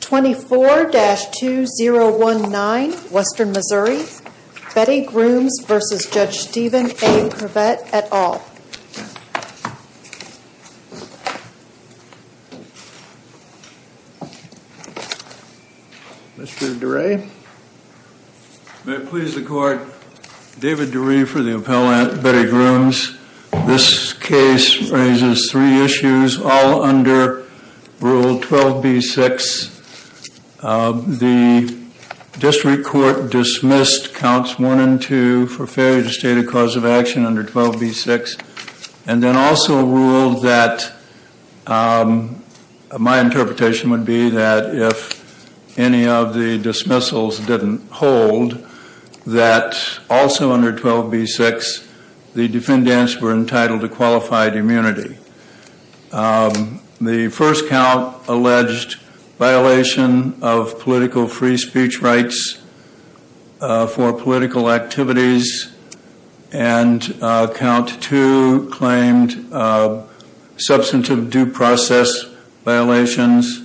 24-2019 Western Missouri Betty Grooms v. Judge Steven A. Privette, et al. Mr. Durey. May it please the court, David Durey for the appellant, Betty Grooms. This case raises three issues all under Rule 12b-6. The district court dismissed counts 1 and 2 for failure to state a cause of action under 12b-6 and then also ruled that my interpretation would be that if any of the dismissals didn't hold that also under 12b-6 the defendants were entitled to qualified immunity. The first count alleged violation of political free speech rights for political activities and count 2 claimed substantive due process violations,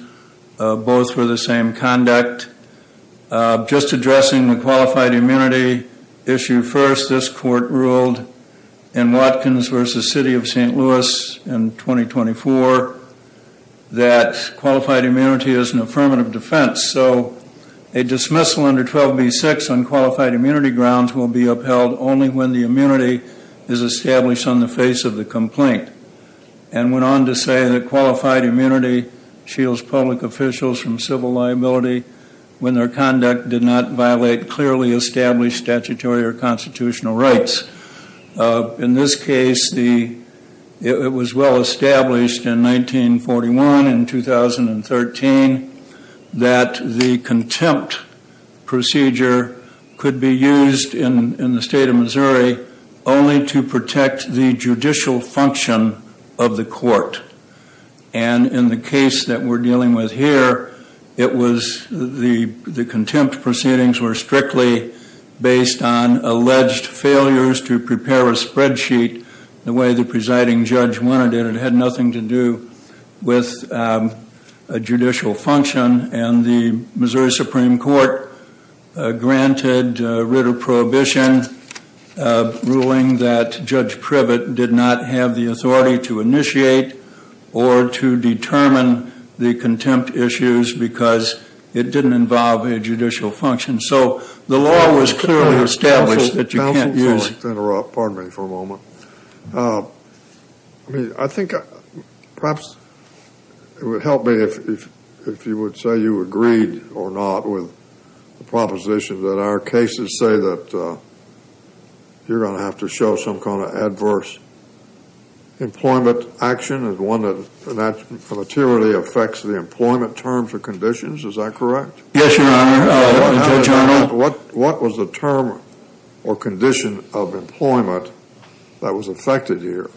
both for the same conduct. Just addressing the qualified immunity issue first, this court ruled in Watkins v. City of St. Louis in 2024 that qualified immunity is an affirmative defense. So a dismissal under 12b-6 on qualified immunity grounds will be upheld only when the immunity is established on the face of the complaint. And went on to say that qualified immunity shields public officials from civil liability when their conduct did not violate clearly established statutory or constitutional rights. In this case, it was well established in 1941 and 2013 that the contempt procedure could be used in the state of Missouri only to protect the judicial function of the court. And in the case that we're dealing with here, the contempt proceedings were strictly based on alleged failures to prepare a spreadsheet the way the presiding judge wanted it. It had nothing to do with judicial function. And the Missouri Supreme Court granted writ of prohibition ruling that Judge Privet did not have the authority to initiate or to determine the contempt issues because it didn't involve a judicial function. So the law was clearly established that you can't use... I mean, I think perhaps it would help me if you would say you agreed or not with the proposition that our cases say that you're going to have to show some kind of adverse employment action as one that materially affects the employment terms or conditions. Is that correct? Yes, Your Honor. What was the term or condition of employment that was affected here?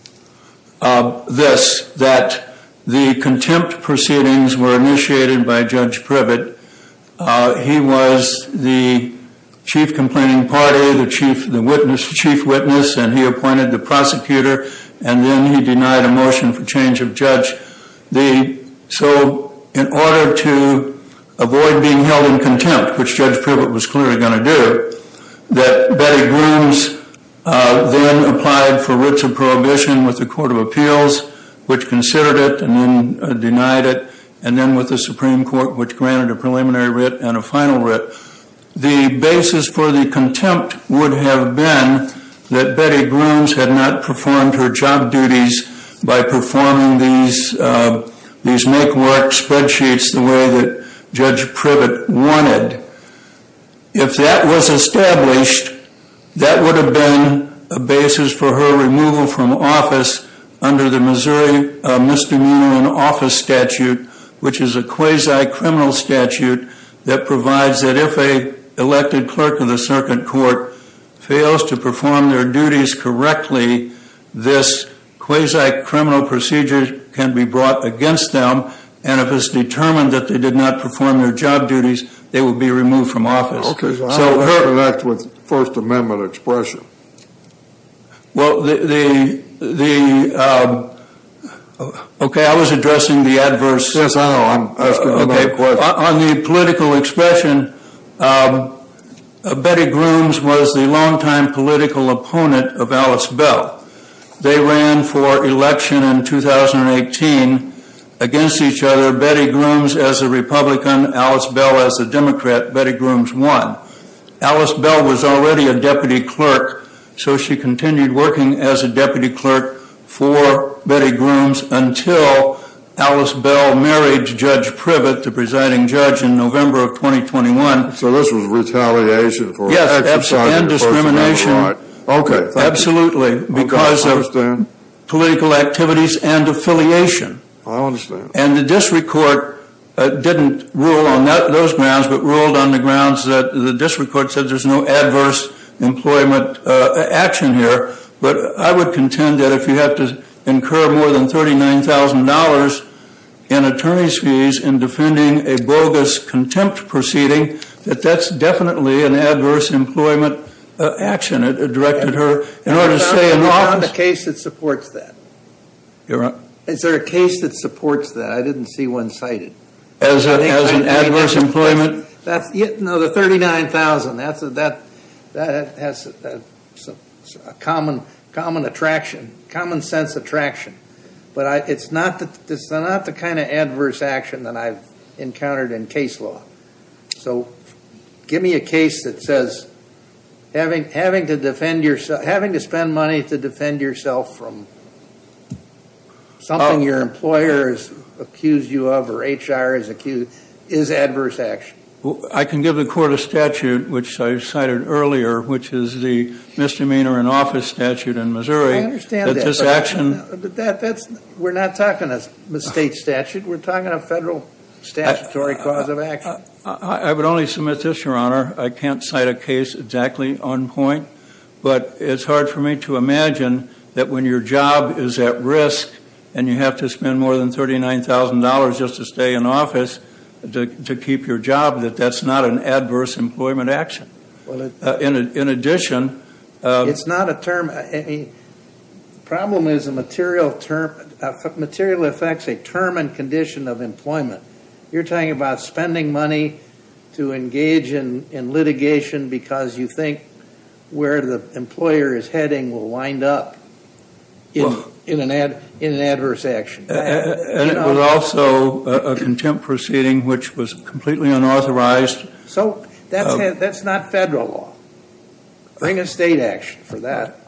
This, that the contempt proceedings were initiated by Judge Privet. He was the chief complaining party, the chief witness, and he appointed the prosecutor, and then he denied a motion for change of judge. So in order to avoid being held in contempt, which Judge Privet was clearly going to do, that Betty Grooms then applied for writs of prohibition with the Court of Appeals, which considered it and then denied it, and then with the Supreme Court, which granted a preliminary writ and a final writ. The basis for the contempt would have been that Betty Grooms had not performed her job duties by performing these make work spreadsheets the way that Judge Privet wanted. If that was established, that would have been a basis for her removal from office under the Missouri Misdemeanor in Office Statute, which is a quasi-criminal statute that provides that if an elected clerk of the circuit court fails to perform their duties correctly, this quasi-criminal procedure can be brought against them, and if it's determined that they did not perform their job duties, they would be removed from office. Okay, so how does that connect with First Amendment expression? Well, the, okay, I was addressing the adverse. Yes, I know, I'm asking the right question. On the political expression, Betty Grooms was the longtime political opponent of Alice Bell. They ran for election in 2018 against each other. Betty Grooms as a Republican, Alice Bell as a Democrat. Betty Grooms won. Alice Bell was already a deputy clerk, so she continued working as a deputy clerk for Betty Grooms until Alice Bell married Judge Privet, the presiding judge, in November of 2021. So this was retaliation for an exercise of First Amendment rights. Yes, and discrimination. Okay, thank you. Absolutely, because of political activities and affiliation. I understand. And the district court didn't rule on those grounds, but ruled on the grounds that the district court said there's no adverse employment action here, but I would contend that if you have to incur more than $39,000 in attorney's fees in defending a bogus contempt proceeding, that that's definitely an adverse employment action. It's not the case that supports that. You're right. Is there a case that supports that? I didn't see one cited. As an adverse employment? No, the $39,000, that has a common sense attraction. But it's not the kind of adverse action that I've encountered in case law. So give me a case that says having to spend money to defend yourself from something your employer has accused you of, or HR has accused you of, is adverse action. I can give the court a statute, which I cited earlier, which is the misdemeanor in office statute in Missouri. I understand that. We're not talking a state statute. We're talking a federal statutory clause of action. I would only submit this, Your Honor. I can't cite a case exactly on point, but it's hard for me to imagine that when your job is at risk and you have to spend more than $39,000 just to stay in office to keep your job, that that's not an adverse employment action. In addition. It's not a term. The problem is material effects a term and condition of employment. You're talking about spending money to engage in litigation because you think where the employer is heading will wind up in an adverse action. And it was also a contempt proceeding, which was completely unauthorized. So that's not federal law. Bring a state action for that.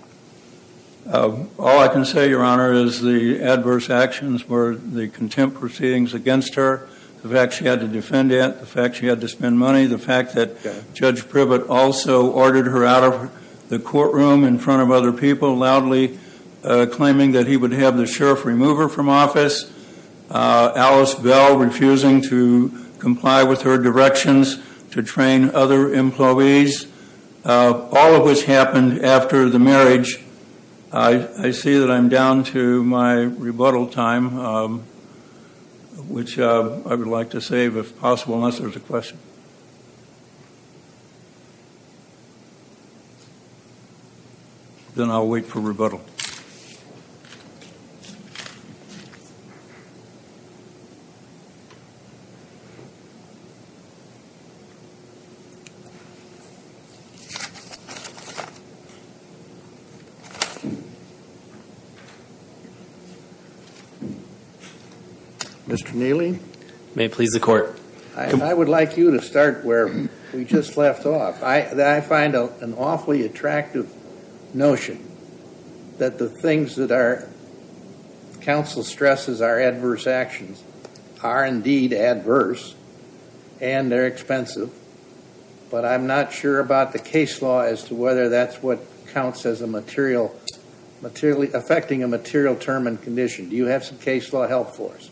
All I can say, Your Honor, is the adverse actions were the contempt proceedings against her. The fact she had to defend it. The fact she had to spend money. The fact that Judge Privet also ordered her out of the courtroom in front of other people loudly claiming that he would have the sheriff remove her from office. Alice Bell refusing to comply with her directions to train other employees. All of which happened after the marriage. I see that I'm down to my rebuttal time, which I would like to save if possible unless there's a question. Then I'll wait for rebuttal. Mr. Neely may please the court. I would like you to start where we just left off. I find an awfully attractive notion that the things that our counsel stresses are adverse actions are indeed adverse. And they're expensive. But I'm not sure about the case law as to whether that's what counts as affecting a material term and condition. Do you have some case law help for us?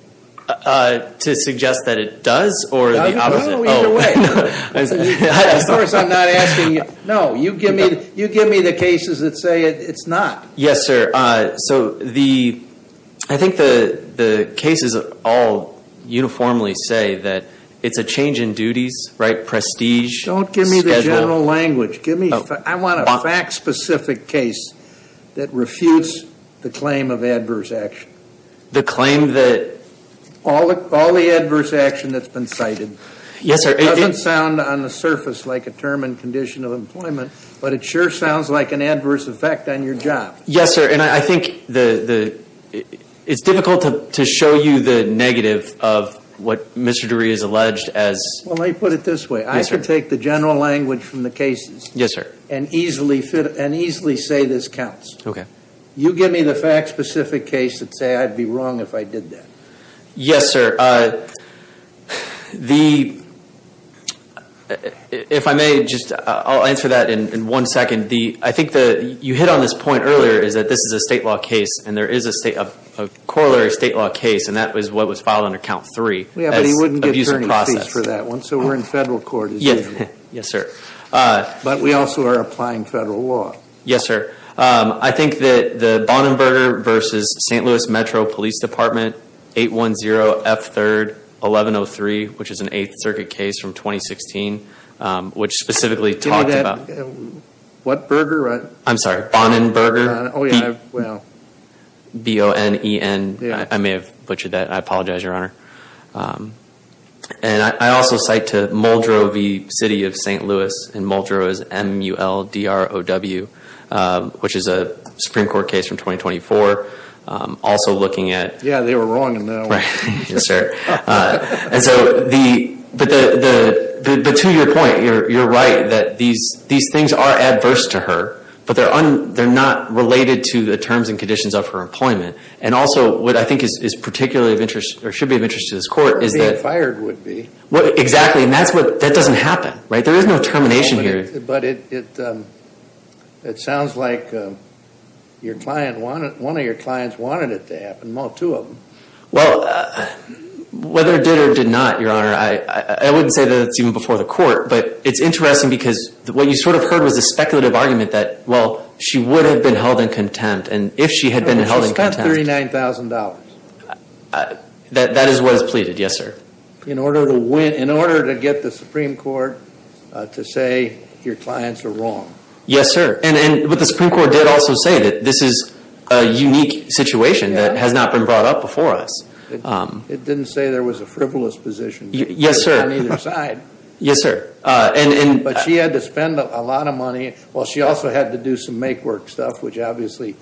To suggest that it does or the opposite? Either way. Of course I'm not asking you. No, you give me the cases that say it's not. Yes, sir. So I think the cases all uniformly say that it's a change in duties, right? Prestige. Don't give me the general language. I want a fact specific case that refutes the claim of adverse action. The claim that? All the adverse action that's been cited. Yes, sir. It doesn't sound on the surface like a term and condition of employment, but it sure sounds like an adverse effect on your job. Yes, sir. And I think it's difficult to show you the negative of what Mr. DeRee has alleged as. Well, let me put it this way. Yes, sir. I can take the general language from the cases. Yes, sir. And easily say this counts. Okay. You give me the fact specific case that say I'd be wrong if I did that. Yes, sir. If I may, I'll answer that in one second. I think you hit on this point earlier is that this is a state law case, and there is a corollary state law case, and that was what was filed under count three. Yeah, but he wouldn't get attorneys fees for that one, so we're in federal court as usual. Yes, sir. But we also are applying federal law. Yes, sir. I think that the Bonnenberger v. St. Louis Metro Police Department 810F3-1103, which is an Eighth Circuit case from 2016, which specifically talked about. What burger? I'm sorry. Bonnenberger. Oh, yeah. B-O-N-E-N. I may have butchered that. I apologize, Your Honor. And I also cite to Muldrow v. City of St. Louis, and Muldrow is M-U-L-D-R-O-W, which is a Supreme Court case from 2024, also looking at. Yeah, they were wrong in that one. Yes, sir. But to your point, you're right that these things are adverse to her, but they're not related to the terms and conditions of her employment. And also what I think is particularly of interest or should be of interest to this court is that. Or being fired would be. Exactly. And that doesn't happen. Right? There is no termination here. But it sounds like one of your clients wanted it to happen, well, two of them. Well, whether it did or did not, Your Honor, I wouldn't say that it's even before the court. But it's interesting because what you sort of heard was a speculative argument that, well, she would have been held in contempt. And if she had been held in contempt. No, she spent $39,000. That is what is pleaded, yes, sir. In order to get the Supreme Court to say your clients are wrong. Yes, sir. But the Supreme Court did also say that this is a unique situation that has not been brought up before us. It didn't say there was a frivolous position. Yes, sir. On either side. Yes, sir. But she had to spend a lot of money. Well, she also had to do some make work stuff, which obviously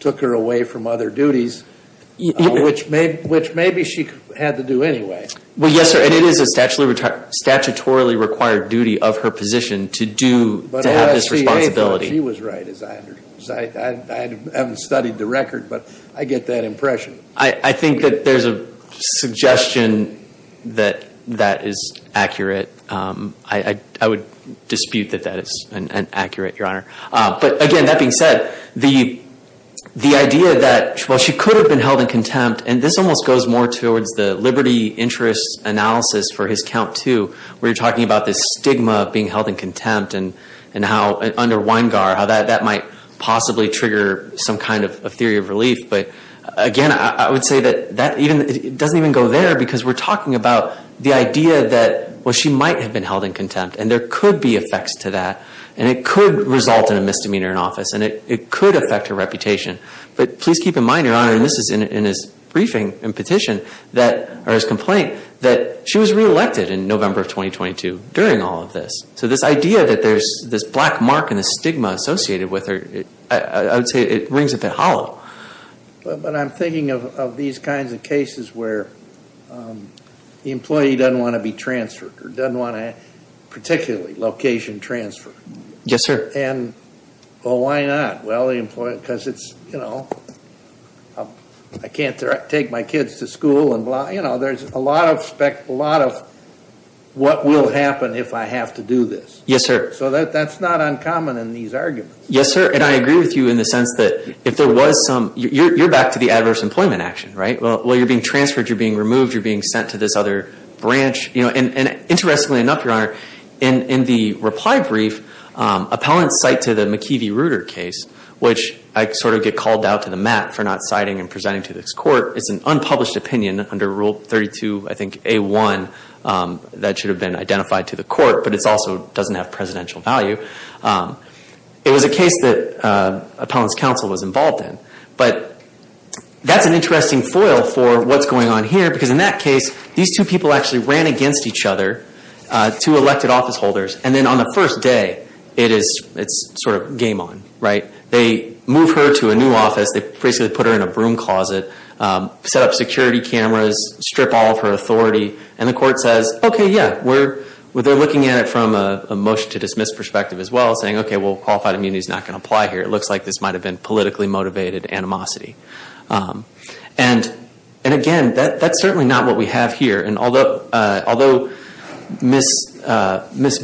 took her away from other duties. Which maybe she had to do anyway. Well, yes, sir. And it is a statutorily required duty of her position to have this responsibility. She was right. I haven't studied the record, but I get that impression. I think that there is a suggestion that that is accurate. I would dispute that that is an accurate, Your Honor. But, again, that being said, the idea that, well, she could have been held in contempt. And this almost goes more towards the liberty interest analysis for his count too. Where you are talking about this stigma of being held in contempt. And how under Weingar, how that might possibly trigger some kind of theory of relief. But, again, I would say that it doesn't even go there. Because we are talking about the idea that, well, she might have been held in contempt. And there could be effects to that. And it could result in a misdemeanor in office. And it could affect her reputation. But please keep in mind, Your Honor, and this is in his briefing and petition, or his complaint, that she was reelected in November of 2022 during all of this. So this idea that there is this black mark and this stigma associated with her, I would say it rings a bit hollow. But I'm thinking of these kinds of cases where the employee doesn't want to be transferred. Or doesn't want to particularly location transfer. Yes, sir. And, well, why not? Well, because it's, you know, I can't take my kids to school and blah. You know, there's a lot of what will happen if I have to do this. Yes, sir. So that's not uncommon in these arguments. Yes, sir. And I agree with you in the sense that if there was some, you're back to the adverse employment action, right? Well, you're being transferred. You're being removed. You're being sent to this other branch. And interestingly enough, Your Honor, in the reply brief, appellants cite to the McKeevy-Ruder case, which I sort of get called out to the mat for not citing and presenting to this court. It's an unpublished opinion under Rule 32, I think, A1, that should have been identified to the court. But it also doesn't have presidential value. It was a case that appellants' counsel was involved in. But that's an interesting foil for what's going on here because in that case, these two people actually ran against each other, two elected office holders. And then on the first day, it's sort of game on, right? They move her to a new office. They basically put her in a broom closet, set up security cameras, strip all of her authority. And the court says, okay, yeah, they're looking at it from a motion-to-dismiss perspective as well, saying, okay, well, qualified immunity is not going to apply here. It looks like this might have been politically motivated animosity. And again, that's certainly not what we have here. And although Ms.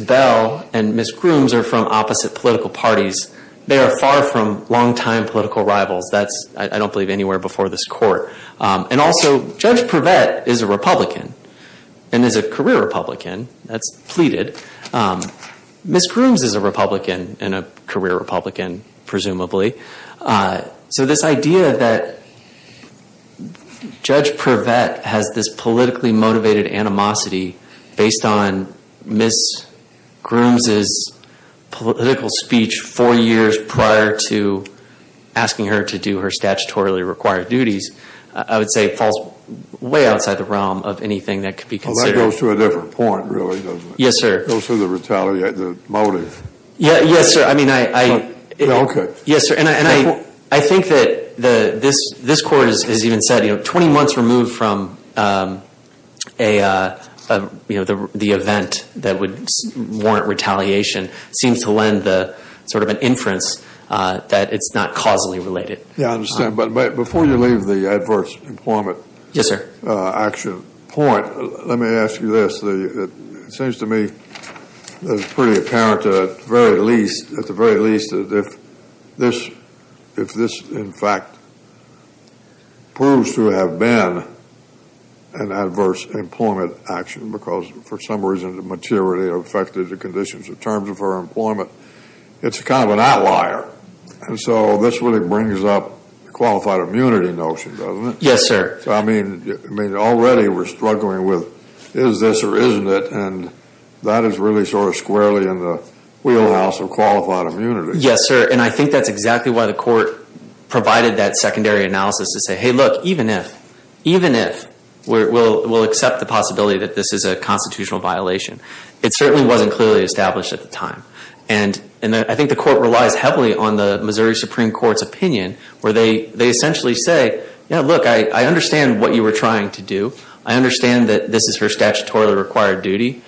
Bell and Ms. Grooms are from opposite political parties, they are far from longtime political rivals. That's, I don't believe, anywhere before this court. And also Judge Prevett is a Republican and is a career Republican. That's pleaded. Ms. Grooms is a Republican and a career Republican, presumably. So this idea that Judge Prevett has this politically motivated animosity based on Ms. Grooms' political speech four years prior to asking her to do her statutorily required duties I would say falls way outside the realm of anything that could be considered. Well, that goes to a different point, really, doesn't it? Yes, sir. It goes to the motive. Yes, sir. Okay. Yes, sir. And I think that this court has even said, you know, 20 months removed from the event that would warrant retaliation seems to lend sort of an inference that it's not causally related. Yeah, I understand. But before you leave the adverse employment action point, let me ask you this. It seems to me that it's pretty apparent, at the very least, that if this, in fact, proves to have been an adverse employment action because for some reason the maturity affected the conditions in terms of her employment, it's kind of an outlier. And so this really brings up the qualified immunity notion, doesn't it? Yes, sir. I mean, already we're struggling with is this or isn't it? And that is really sort of squarely in the wheelhouse of qualified immunity. Yes, sir. And I think that's exactly why the court provided that secondary analysis to say, hey, look, even if we'll accept the possibility that this is a constitutional violation, it certainly wasn't clearly established at the time. And I think the court relies heavily on the Missouri Supreme Court's opinion where they essentially say, yeah, look, I understand what you were trying to do. I understand that this is her statutorily required duty.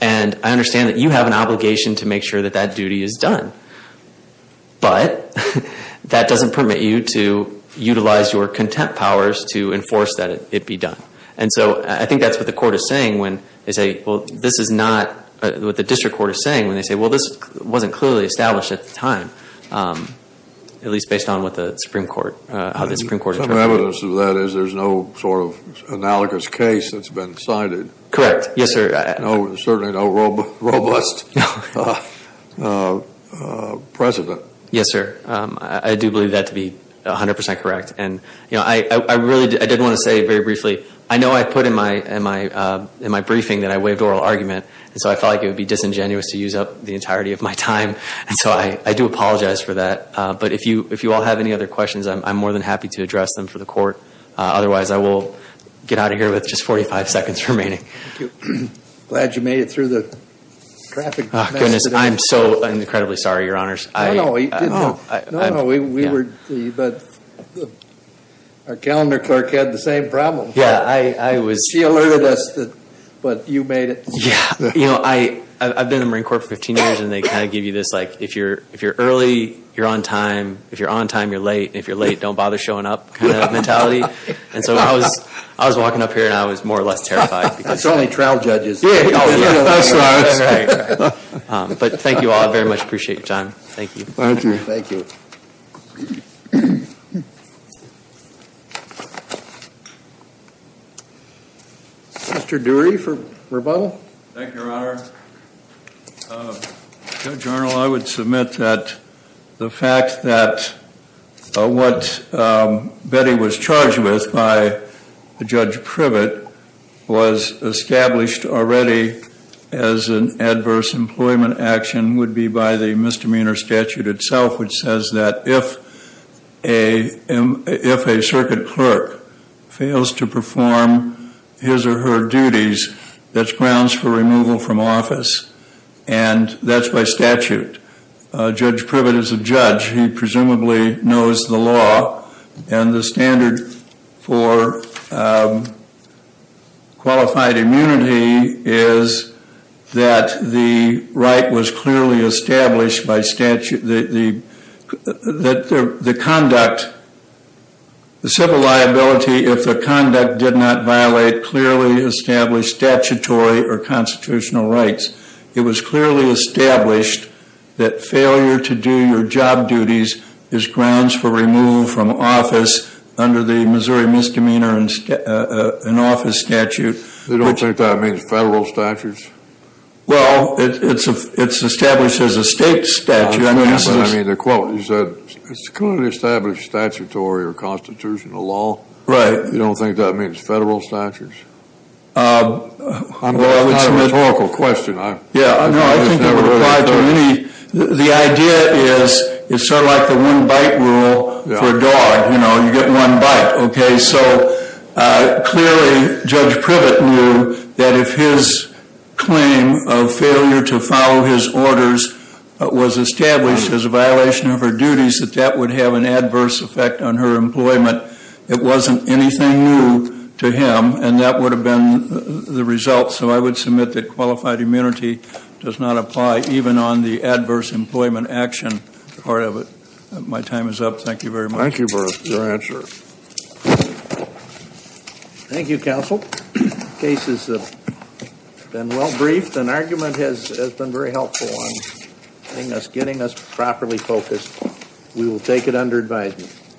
And I understand that you have an obligation to make sure that that duty is done. But that doesn't permit you to utilize your contempt powers to enforce that it be done. And so I think that's what the court is saying when they say, well, this is not what the district court is saying when they say, well, this wasn't clearly established at the time, at least based on what the Supreme Court, how the Supreme Court interpreted it. Some evidence of that is there's no sort of analogous case that's been cited. Correct. Yes, sir. No, certainly no robust precedent. Yes, sir. I do believe that to be 100% correct. And, you know, I really didn't want to say very briefly, I know I put in my briefing that I waived oral argument, and so I felt like it would be disingenuous to use up the entirety of my time. And so I do apologize for that. But if you all have any other questions, I'm more than happy to address them for the court. Otherwise, I will get out of here with just 45 seconds remaining. Thank you. Glad you made it through the traffic mess. Goodness, I'm so incredibly sorry, Your Honors. No, no, we were, but our calendar clerk had the same problem. Yeah, I was. She alerted us that, but you made it. Yeah, you know, I've been in the Marine Corps for 15 years, and they kind of give you this, like, if you're early, you're on time. If you're on time, you're late. And if you're late, don't bother showing up kind of mentality. And so I was walking up here, and I was more or less terrified. That's only trial judges. Yeah, that's right. But thank you all. I very much appreciate your time. Thank you. Thank you. Thank you. Mr. Dury for rebuttal. Thank you, Your Honor. Judge Arnold, I would submit that the fact that what Betty was charged with by Judge Privet was established already as an adverse employment action would be by the misdemeanor statute itself, which says that if a circuit clerk fails to perform his or her duties, that's grounds for removal from office. And that's by statute. Judge Privet is a judge. He presumably knows the law. And the standard for qualified immunity is that the right was clearly established by statute. The conduct, the civil liability, if the conduct did not violate clearly established statutory or constitutional rights, it was clearly established that failure to do your job duties is grounds for removal from office under the Missouri Misdemeanor in Office Statute. You don't think that means federal statutes? Well, it's established as a state statute. I mean, the quote, you said it's clearly established statutory or constitutional law. Right. You don't think that means federal statutes? Well, it's a rhetorical question. Yeah, no, I think that would apply to any. The idea is it's sort of like the one-bite rule for a dog. You know, you get one bite, okay? So clearly Judge Privet knew that if his claim of failure to follow his orders was established as a violation of her duties, that that would have an adverse effect on her employment. It wasn't anything new to him, and that would have been the result. So I would submit that qualified immunity does not apply even on the adverse employment action part of it. My time is up. Thank you very much. Thank you for your answer. Thank you, counsel. The case has been well briefed. An argument has been very helpful in getting us properly focused. We will take it under advisement.